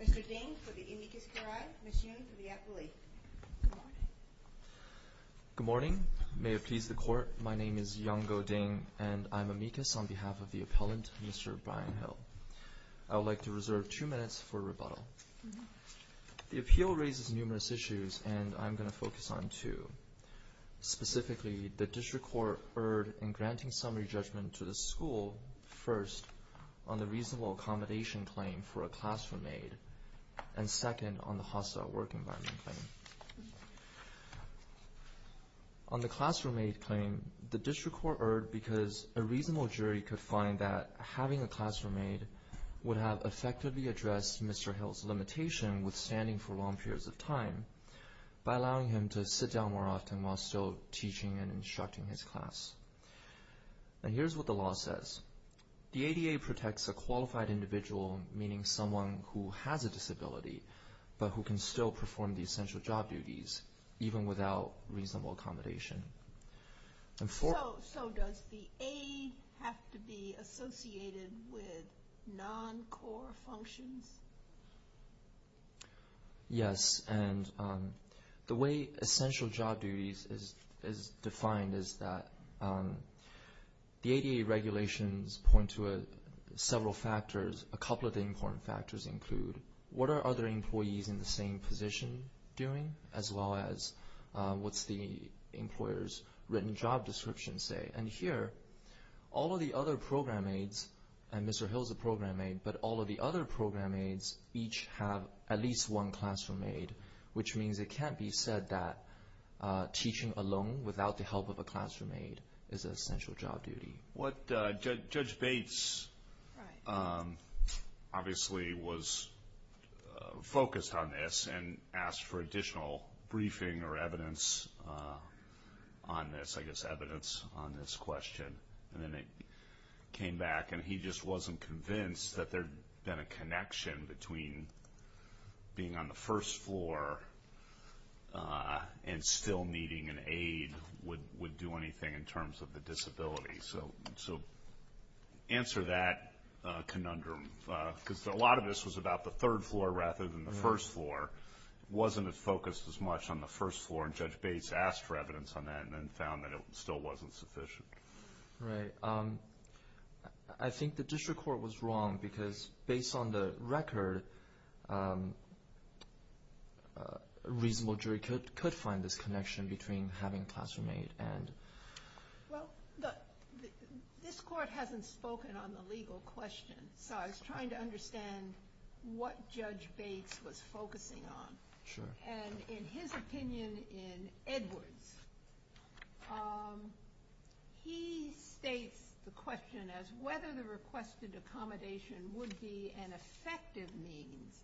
Mr. Ding, for the amicus curiae, Ms. Yoon, for the appellee. Good morning. May it please the Court, my name is Yong Go Ding, and I'm amicus on behalf of the appellant, Mr. Brien Hill. I would like to reserve two minutes for rebuttal. The appeal raises numerous issues, and I'm going to focus on two. Specifically, the district court erred in granting summary judgment to the school, first, on the reasonable accommodation claim for a classroom aide, and second, on the hostile work environment claim. On the classroom aide claim, the district court erred because a reasonable jury could find that having a classroom aide would have effectively addressed Mr. Hill's limitation withstanding for long periods of time by allowing him to sit down more often while still teaching and instructing his class. Here's what the law says. The ADA protects a qualified individual, meaning someone who has a disability, but who can still perform the essential job duties, even without reasonable accommodation. So, does the aide have to be associated with non-core functions? Yes, and the way essential job duties is defined is that the ADA regulations point to several factors. A couple of the important factors include what are other employees in the same position as well as what's the employer's written job description say, and here, all of the other program aides, and Mr. Hill's a program aide, but all of the other program aides each have at least one classroom aide, which means it can't be said that teaching alone without the help of a classroom aide is an essential job duty. What Judge Bates obviously was focused on this and asked for additional briefing or evidence on this, I guess evidence on this question, and then it came back and he just wasn't convinced that there'd been a connection between being on the first floor and still needing an aide would do anything in terms of the disability. So, answer that conundrum, because a lot of this was about the third floor rather than the first floor. It wasn't as focused as much on the first floor, and Judge Bates asked for evidence on that and then found that it still wasn't sufficient. Right. I think the district court was wrong, because based on the record, a reasonable jury could find this connection between having a classroom aide and... Well, this court hasn't spoken on the legal question, so I was trying to understand what Judge Bates was focusing on, and in his opinion in Edwards, he states the question as whether the requested accommodation would be an effective means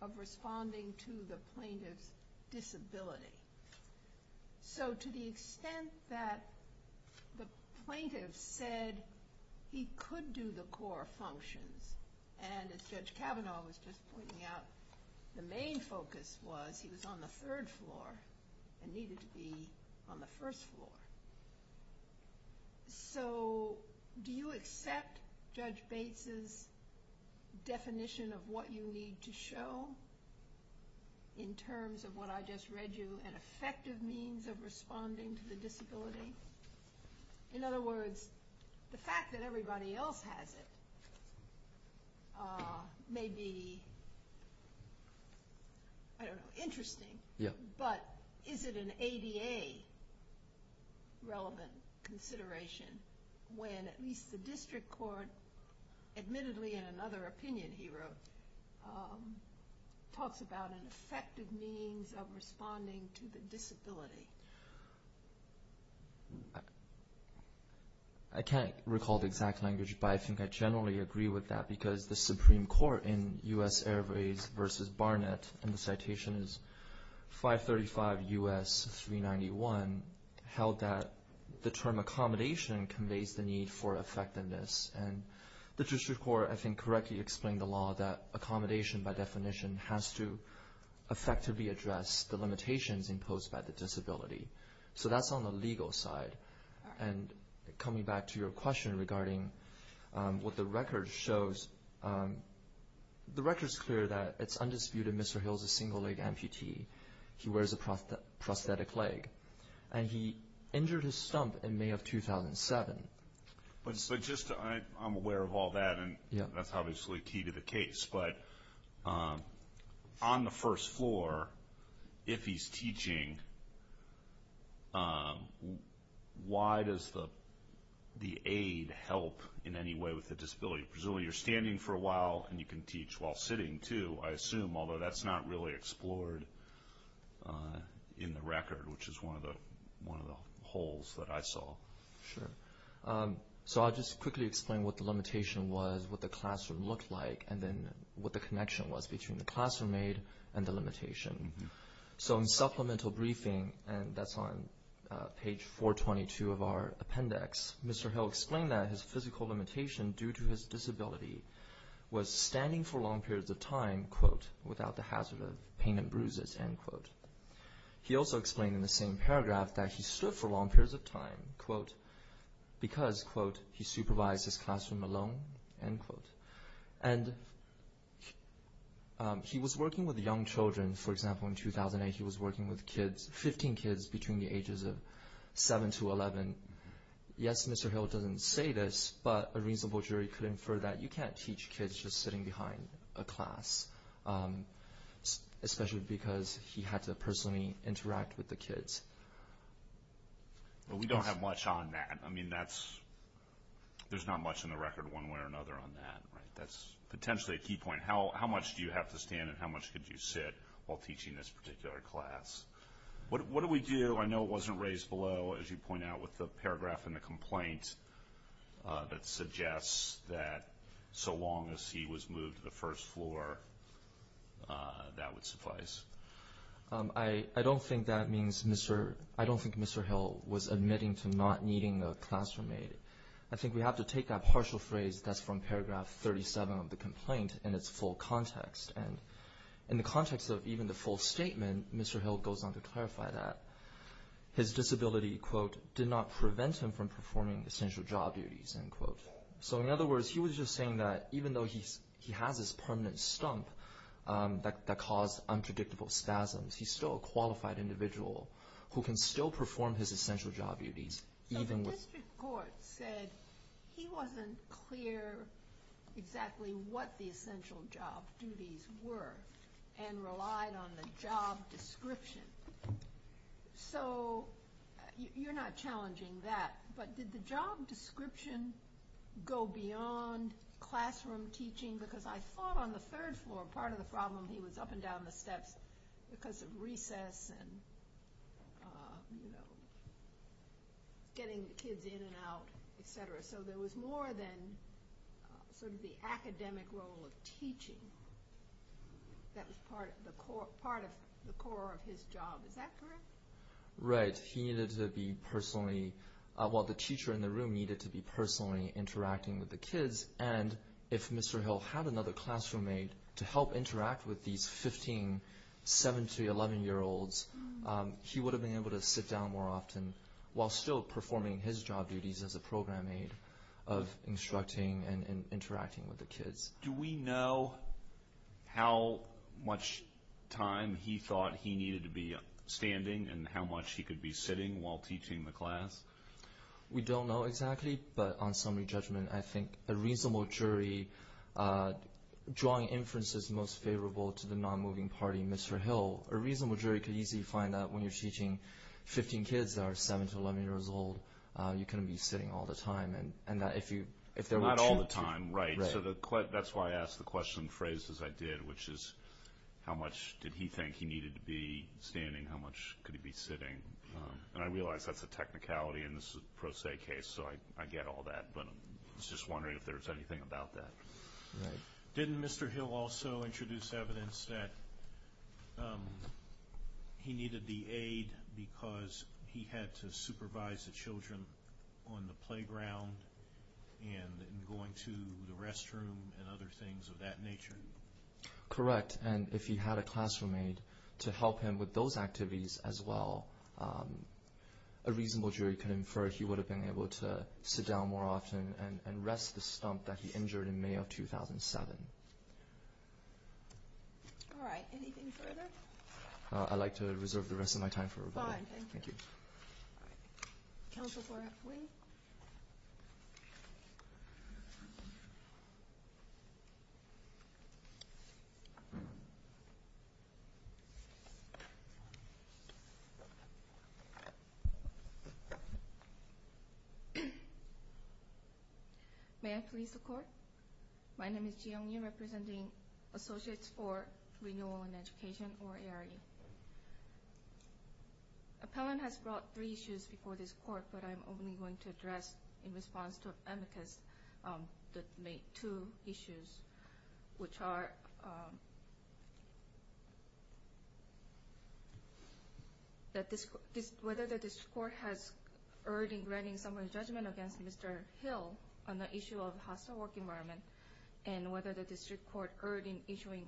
of responding to the plaintiff's disability. So, to the extent that the plaintiff said he could do the core functions, and as Judge Kavanaugh was just pointing out, the main focus was he was on the third floor and needed to be on the first floor. So, do you accept Judge Bates's definition of what you need to show in terms of what I just read you, an effective means of responding to the disability? In other words, the fact that everybody else has it may be, I don't know, interesting, but is it an ADA relevant consideration when at least the district court admittedly in the Supreme Court in U.S. Airways v. Barnett, and the citation is 535 U.S. 391, held that the term accommodation conveys the need for effectiveness, and the district court, I think, correctly explained the law that accommodation, by definition, has to effectively address the limitations imposed by the disability. So, that's on the legal side, and coming back to your question regarding what the record shows, the record's clear that it's undisputed Mr. Hill's a single-leg amputee. He wears a prosthetic leg, and he injured his stump in May of 2007. I'm aware of all that, and that's obviously key to the case, but on the first floor, if he's teaching, why does the aid help in any way with the disability? Presumably you're standing for a while, and you can teach while sitting, too, I assume, although that's not really explored in the record, which is one of the holes that I saw. Sure. So, I'll just quickly explain what the limitation was, what the classroom looked like, and then what the connection was between the classroom aid and the limitation. So, in supplemental briefing, and that's on page 422 of our appendix, Mr. Hill explained that his physical limitation due to his disability was standing for long periods of time, quote, He also explained in the same paragraph that he stood for long periods of time, quote, because, quote, he supervised his classroom alone, end quote. And he was working with young children. For example, in 2008, he was working with kids, 15 kids between the ages of 7 to 11. Yes, Mr. Hill doesn't say this, but a reasonable jury could infer that you can't teach kids if you're just sitting behind a class, especially because he had to personally interact with the kids. Well, we don't have much on that. I mean, there's not much in the record one way or another on that. That's potentially a key point. How much do you have to stand, and how much could you sit while teaching this particular class? What do we do? I know it wasn't raised below, as you point out, with the paragraph in the complaint that suggests that so long as he was moved to the first floor, that would suffice. I don't think Mr. Hill was admitting to not needing a class roommate. I think we have to take that partial phrase that's from paragraph 37 of the complaint in its full context. And in the context of even the full statement, Mr. Hill goes on to clarify that his disability, quote, did not prevent him from performing essential job duties, end quote. So in other words, he was just saying that even though he has this permanent stump that caused unpredictable spasms, he's still a qualified individual who can still perform his essential job duties. So the district court said he wasn't clear exactly what the essential job duties were and relied on the job description. So you're not challenging that, but did the job description go beyond classroom teaching? Because I thought on the third floor, part of the problem, he was up and down the steps because of recess and getting the kids in and out, et cetera. So there was more than sort of the academic role of teaching that was part of the core of his job. Is that correct? Right. He needed to be personally, well, the teacher in the room needed to be personally interacting with the kids. And if Mr. Hill had another classroom mate to help interact with these 15, 17, 11-year-olds, he would have been able to sit down more often while still performing his job duties as a program aide of instructing and interacting with the kids. Do we know how much time he thought he needed to be standing and how much he could be sitting while teaching the class? We don't know exactly. But on summary judgment, I think a reasonable jury drawing inferences most favorable to the non-moving party, Mr. Hill, a reasonable jury could easily find that when you're teaching 15 kids that are 7 to 11 years old, you couldn't be sitting all the time. Not all the time, right. So that's why I asked the question phrased as I did, which is, how much did he think he needed to be standing? How much could he be sitting? And I realize that's a technicality, and this is a pro se case, so I get all that. But I was just wondering if there was anything about that. Didn't Mr. Hill also introduce evidence that he needed the aide because he had to supervise the children on the playground and going to the restroom and other things of that nature? Correct. And if he had a classroom aide to help him with those activities as well, a reasonable jury could infer he would have been able to sit down more often and rest the stump that he injured in May of 2007. All right. Anything further? I'd like to reserve the rest of my time for rebuttal. Fine. Thank you. Thank you. All right. Thank you. May I please the Court? My name is Ji Young Yoo, representing Associates for Renewal and Education, or ARE. Appellant has brought three issues before this Court, but I'm only going to address in response to amicus the two issues, which are whether the district court has erred in granting summary judgment against Mr. Hill on the issue of hostile work environment and whether the district court erred in issuing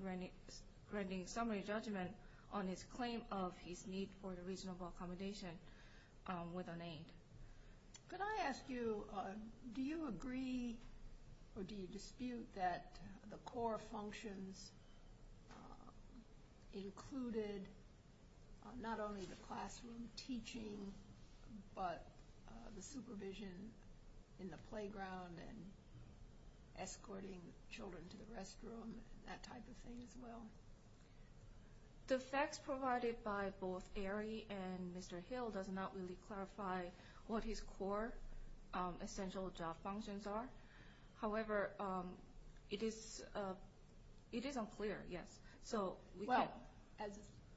granting summary judgment on his claim of his need for the reasonable accommodation with an aide. Could I ask you, do you agree or do you dispute that the core functions included not only the classroom teaching, but the supervision in the playground and escorting children to the restroom and that type of thing as well? The facts provided by both ARE and Mr. Hill does not really clarify what his core essential job functions are. However, it is unclear, yes. Well, as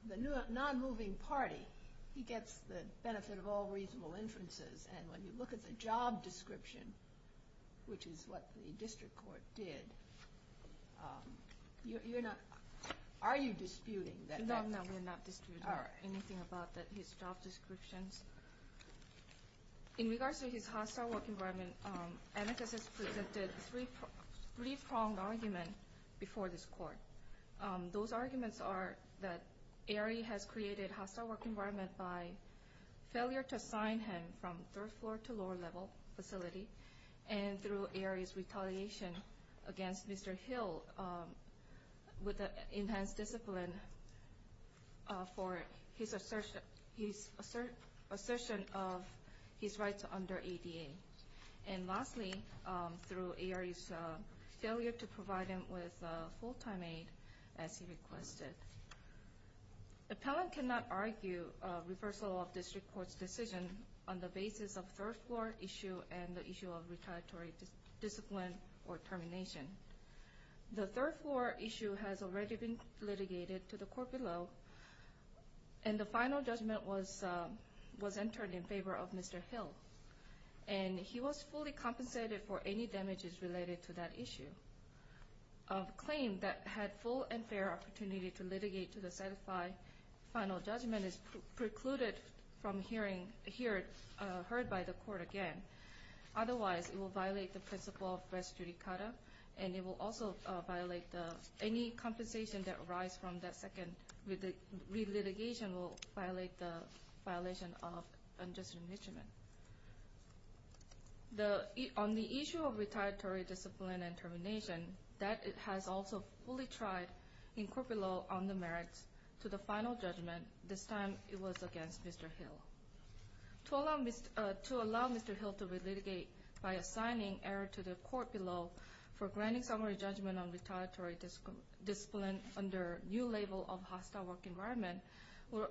the non-moving party, he gets the benefit of all reasonable inferences, and when you look at the job description, which is what the district court did, are you disputing that? No, no, we're not disputing anything about his job descriptions. In regards to his hostile work environment, amicus has presented three-pronged argument before this Court. Those arguments are that ARE has created hostile work environment by failure to assign him from third floor to lower level facility and through ARE's retaliation against Mr. Hill with enhanced discipline for his assertion of his rights under ADA. And lastly, through ARE's failure to provide him with full-time aide as he requested. Appellant cannot argue reversal of district court's decision on the basis of third floor issue and the issue of retaliatory discipline or termination. The third floor issue has already been litigated to the court below, and the final judgment was entered in favor of Mr. Hill. And he was fully compensated for any damages related to that issue. A claim that had full and fair opportunity to litigate to the final judgment is precluded from being heard by the court again. Otherwise, it will violate the principle of res judicata, and it will also violate any compensation that arises from that second re-litigation will violate the violation of unjust remission. On the issue of retaliatory discipline and termination, that has also fully tried in court below on the merits to the final judgment. This time, it was against Mr. Hill. To allow Mr. Hill to re-litigate by assigning error to the court below for granting summary judgment on retaliatory discipline under new label of hostile work environment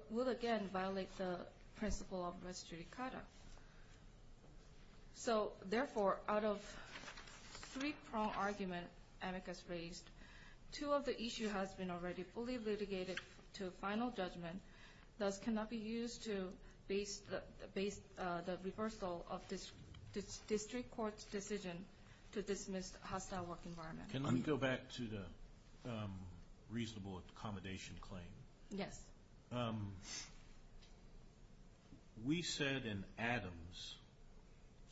will again violate the principle of res judicata. So, therefore, out of three-prong argument amicus raised, two of the issue has been already fully litigated to final judgment, thus cannot be used to base the reversal of this district court's decision to dismiss hostile work environment. Can I go back to the reasonable accommodation claim? Yes. We said in Adams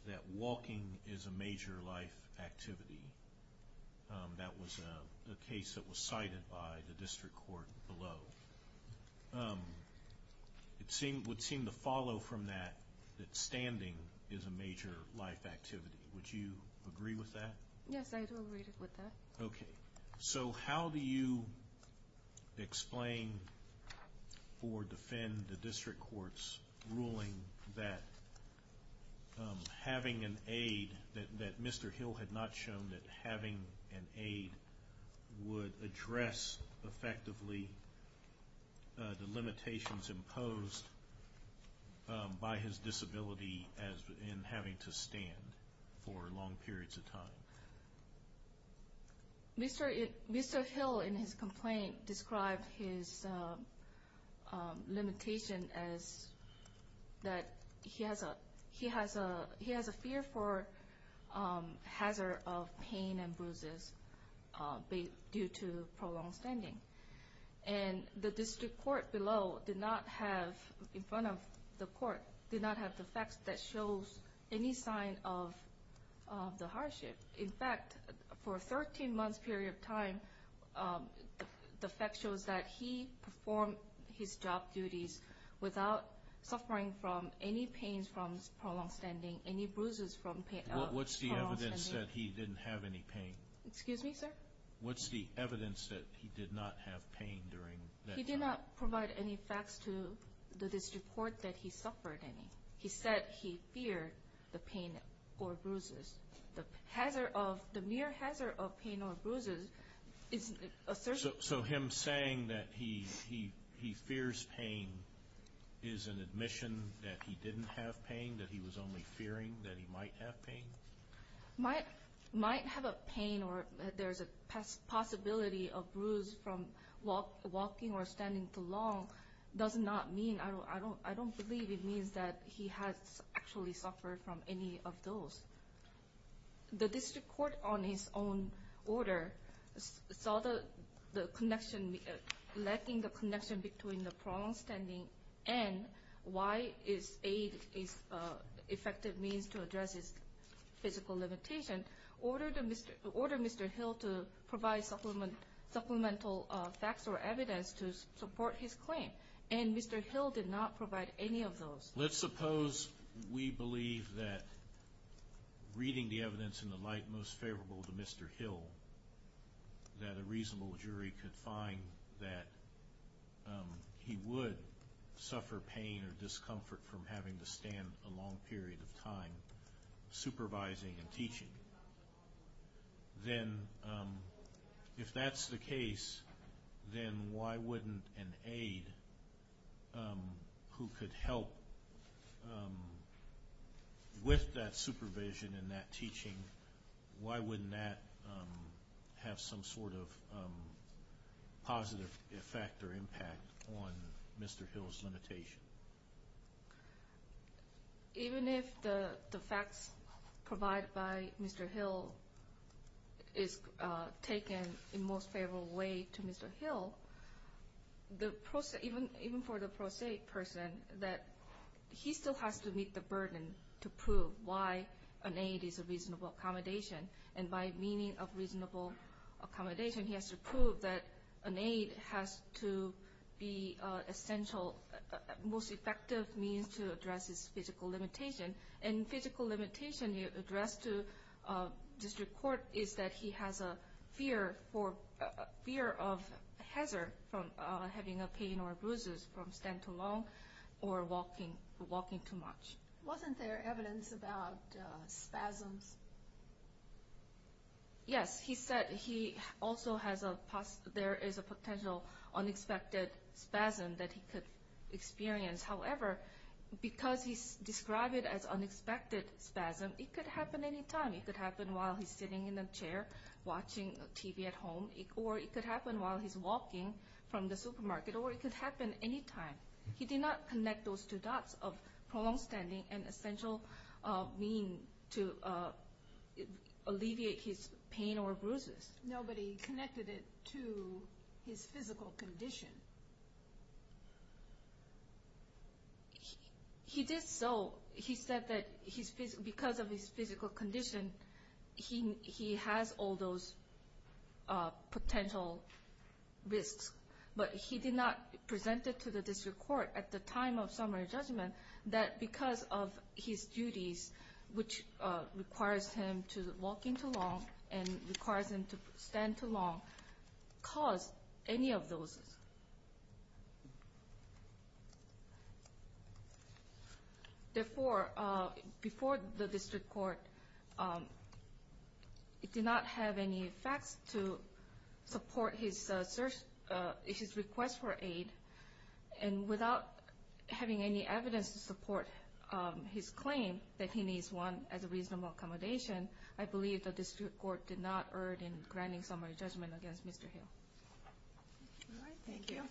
that walking is a major life activity. That was a case that was cited by the district court below. It would seem to follow from that that standing is a major life activity. Would you agree with that? Yes, I would agree with that. Okay. So, how do you explain or defend the district court's ruling that having an aide, that Mr. Hill had not shown that having an aide would address effectively the limitations imposed by his disability in having to stand for long periods of time? Mr. Hill, in his complaint, described his limitation as that he has a fear for hazard of pain and bruises due to prolonged standing. And the district court below did not have, in front of the court, did not have the facts that shows any sign of the hardship. In fact, for a 13-month period of time, the fact shows that he performed his job duties without suffering from any pains from prolonged standing, any bruises from prolonged standing. What's the evidence that he didn't have any pain? Excuse me, sir? What's the evidence that he did not have pain during that time? He did not provide any facts to the district court that he suffered any. He said he feared the pain or bruises. The mere hazard of pain or bruises is assertive. So him saying that he fears pain is an admission that he didn't have pain, that he was only fearing that he might have pain? Might have a pain or there's a possibility of bruise from walking or standing too long does not mean, I don't believe it means that he has actually suffered from any of those. The district court, on its own order, saw the connection, lacking the connection between the prolonged standing and why aid is an effective means to address his physical limitation, ordered Mr. Hill to provide supplemental facts or evidence to support his claim. And Mr. Hill did not provide any of those. Let's suppose we believe that reading the evidence in the light most favorable to Mr. Hill, that a reasonable jury could find that he would suffer pain or discomfort from having to stand a long period of time supervising and teaching. Then if that's the case, then why wouldn't an aid who could help with that supervision and that teaching, why wouldn't that have some sort of positive effect or impact on Mr. Hill's limitation? Even if the facts provided by Mr. Hill is taken in the most favorable way to Mr. Hill, even for the pro se person, he still has to meet the burden to prove why an aid is a reasonable accommodation. And by meaning of reasonable accommodation, he has to prove that an aid has to be an essential, most effective means to address his physical limitation. And physical limitation addressed to district court is that he has a fear of hazard from having pain or bruises from standing too long or walking too much. Wasn't there evidence about spasms? Yes, he said there is a potential unexpected spasm that he could experience. However, because he described it as unexpected spasm, it could happen anytime. It could happen while he's sitting in a chair watching TV at home, or it could happen while he's walking from the supermarket, or it could happen anytime. He did not connect those two dots of prolonged standing and essential mean to alleviate his pain or bruises. Nobody connected it to his physical condition. He did so, he said that because of his physical condition, he has all those potential risks. But he did not present it to the district court at the time of summary judgment that because of his duties, which requires him to walk in too long and requires him to stand too long, caused any of those. Therefore, before the district court, it did not have any facts to support his request for aid. And without having any evidence to support his claim that he needs one as a reasonable accommodation, I believe the district court did not urge in granting summary judgment against Mr. Hill. All right, thank you.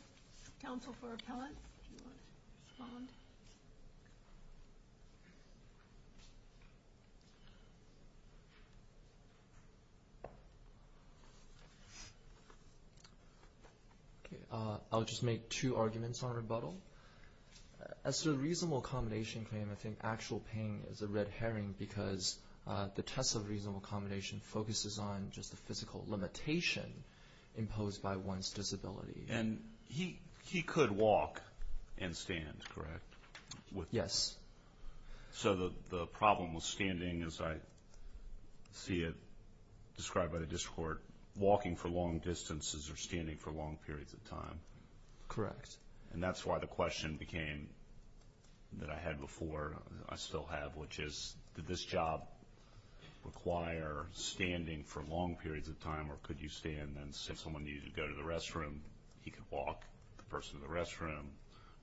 Counsel for appellant, do you want to respond? I'll just make two arguments on rebuttal. As to the reasonable accommodation claim, I think actual pain is a red herring because the test of reasonable accommodation focuses on just the physical limitation imposed by one's disability. And he could walk and stand, correct? Yes. So the problem with standing, as I see it described by the district court, walking for long distances or standing for long periods of time. Correct. And that's why the question became, that I had before, I still have, which is, did this job require standing for long periods of time or could you stand? And since someone needed to go to the restroom, he could walk the person in the restroom,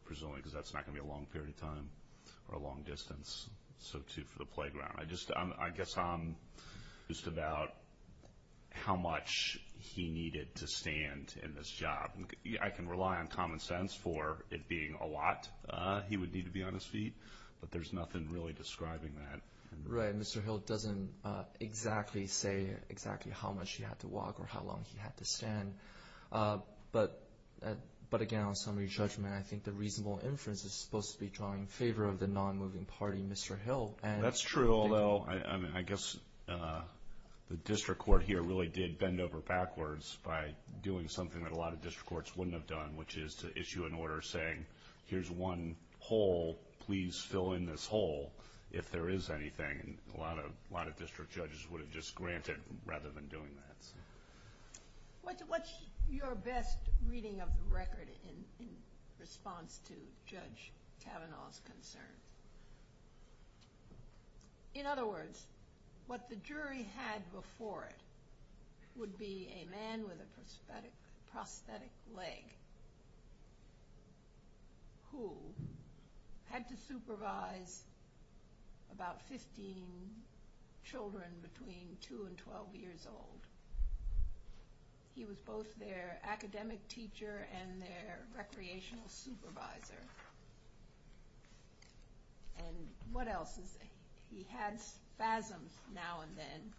presumably because that's not going to be a long period of time or a long distance, so too for the playground. I guess I'm just about how much he needed to stand in this job. I can rely on common sense for it being a lot he would need to be on his feet, but there's nothing really describing that. Right. Mr. Hill doesn't exactly say exactly how much he had to walk or how long he had to stand. But, again, on summary judgment, I think the reasonable inference is supposed to be drawing favor of the non-moving party, Mr. Hill. That's true, although I guess the district court here really did bend over backwards by doing something that a lot of district courts wouldn't have done, which is to issue an order saying, here's one hole, please fill in this hole if there is anything. A lot of district judges would have just granted rather than doing that. What's your best reading of the record in response to Judge Kavanaugh's concern? In other words, what the jury had before it would be a man with a prosthetic leg who had to supervise about 15 children between 2 and 12 years old. He was both their academic teacher and their recreational supervisor. And what else is there? He had spasms now and then.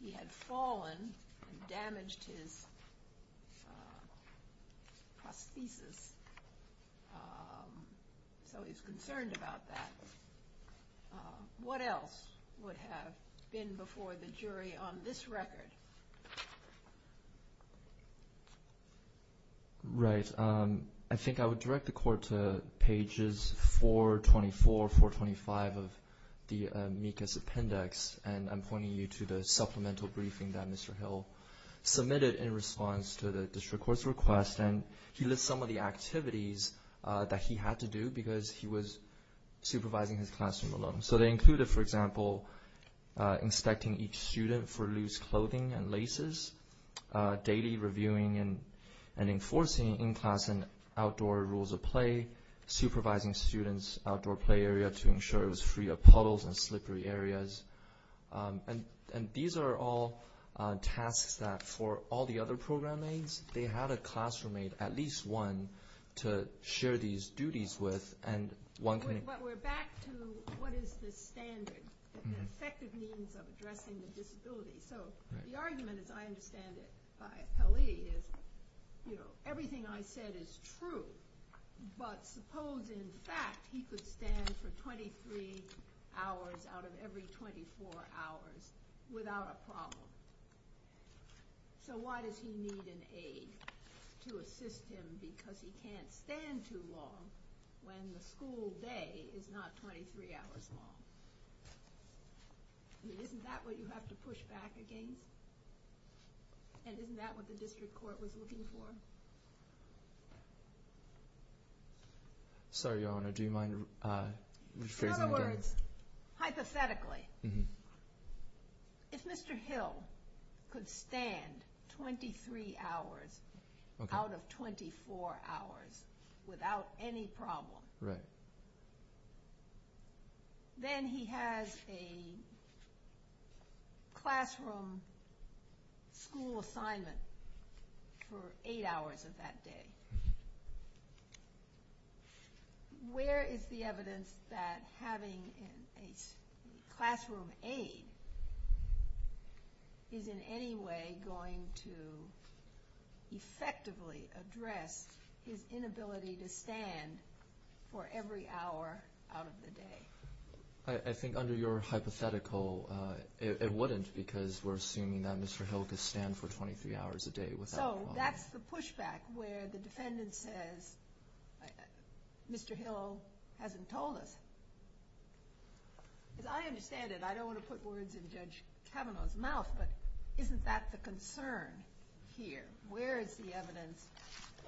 He had fallen and damaged his prosthesis. So he's concerned about that. What else would have been before the jury on this record? Right. I think I would direct the court to pages 424, 425 of the MECAS appendix. And I'm pointing you to the supplemental briefing that Mr. Hill submitted in response to the district court's request. And he lists some of the activities that he had to do because he was supervising his classroom alone. So they included, for example, inspecting each student for loose clothing and laces, daily reviewing and enforcing in-class and outdoor rules of play, supervising students' outdoor play area to ensure it was free of puddles and slippery areas. And these are all tasks that, for all the other program aides, they had a classroom mate, at least one, to share these duties with. But we're back to what is the standard, the effective means of addressing the disability. So the argument, as I understand it, by Pelley is, you know, everything I said is true. But suppose, in fact, he could stand for 23 hours out of every 24 hours without a problem. So why does he need an aide to assist him because he can't stand too long when the school day is not 23 hours long? Isn't that what you have to push back against? And isn't that what the district court was looking for? Sorry, Your Honor, do you mind rephrasing that? In other words, hypothetically, if Mr. Hill could stand 23 hours out of 24 hours without any problem, then he has a classroom school assignment for eight hours of that day. Where is the evidence that having a classroom aide is in any way going to effectively address his inability to stand for every hour out of the day? I think under your hypothetical, it wouldn't because we're assuming that Mr. Hill could stand for 23 hours a day without a problem. That's the pushback where the defendant says, Mr. Hill hasn't told us. As I understand it, I don't want to put words in Judge Kavanaugh's mouth, but isn't that the concern here? Where is the evidence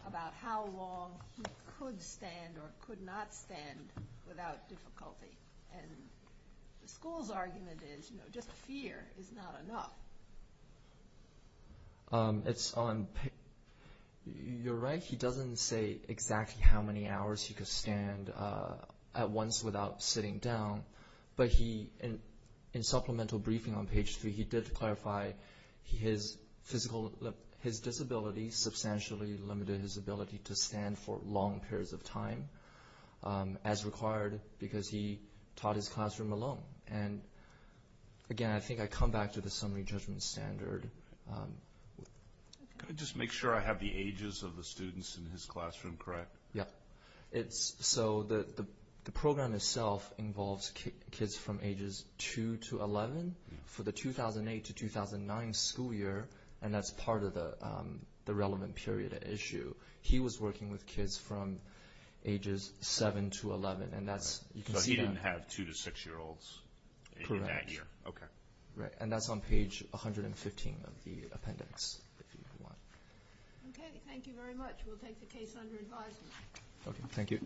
about how long he could stand or could not stand without difficulty? And the school's argument is, you know, just fear is not enough. You're right. He doesn't say exactly how many hours he could stand at once without sitting down. But in supplemental briefing on page three, he did clarify his disability substantially limited his ability to stand for long periods of time as required because he taught his classroom alone. And again, I think I come back to the summary judgment standard. Can I just make sure I have the ages of the students in his classroom correct? Yeah. So the program itself involves kids from ages 2 to 11 for the 2008 to 2009 school year, and that's part of the relevant period issue. He was working with kids from ages 7 to 11. So he didn't have 2 to 6-year-olds in that year? Correct. Okay. And that's on page 115 of the appendix, if you want. Okay. Thank you very much. We'll take the case under advisement. Okay. Thank you.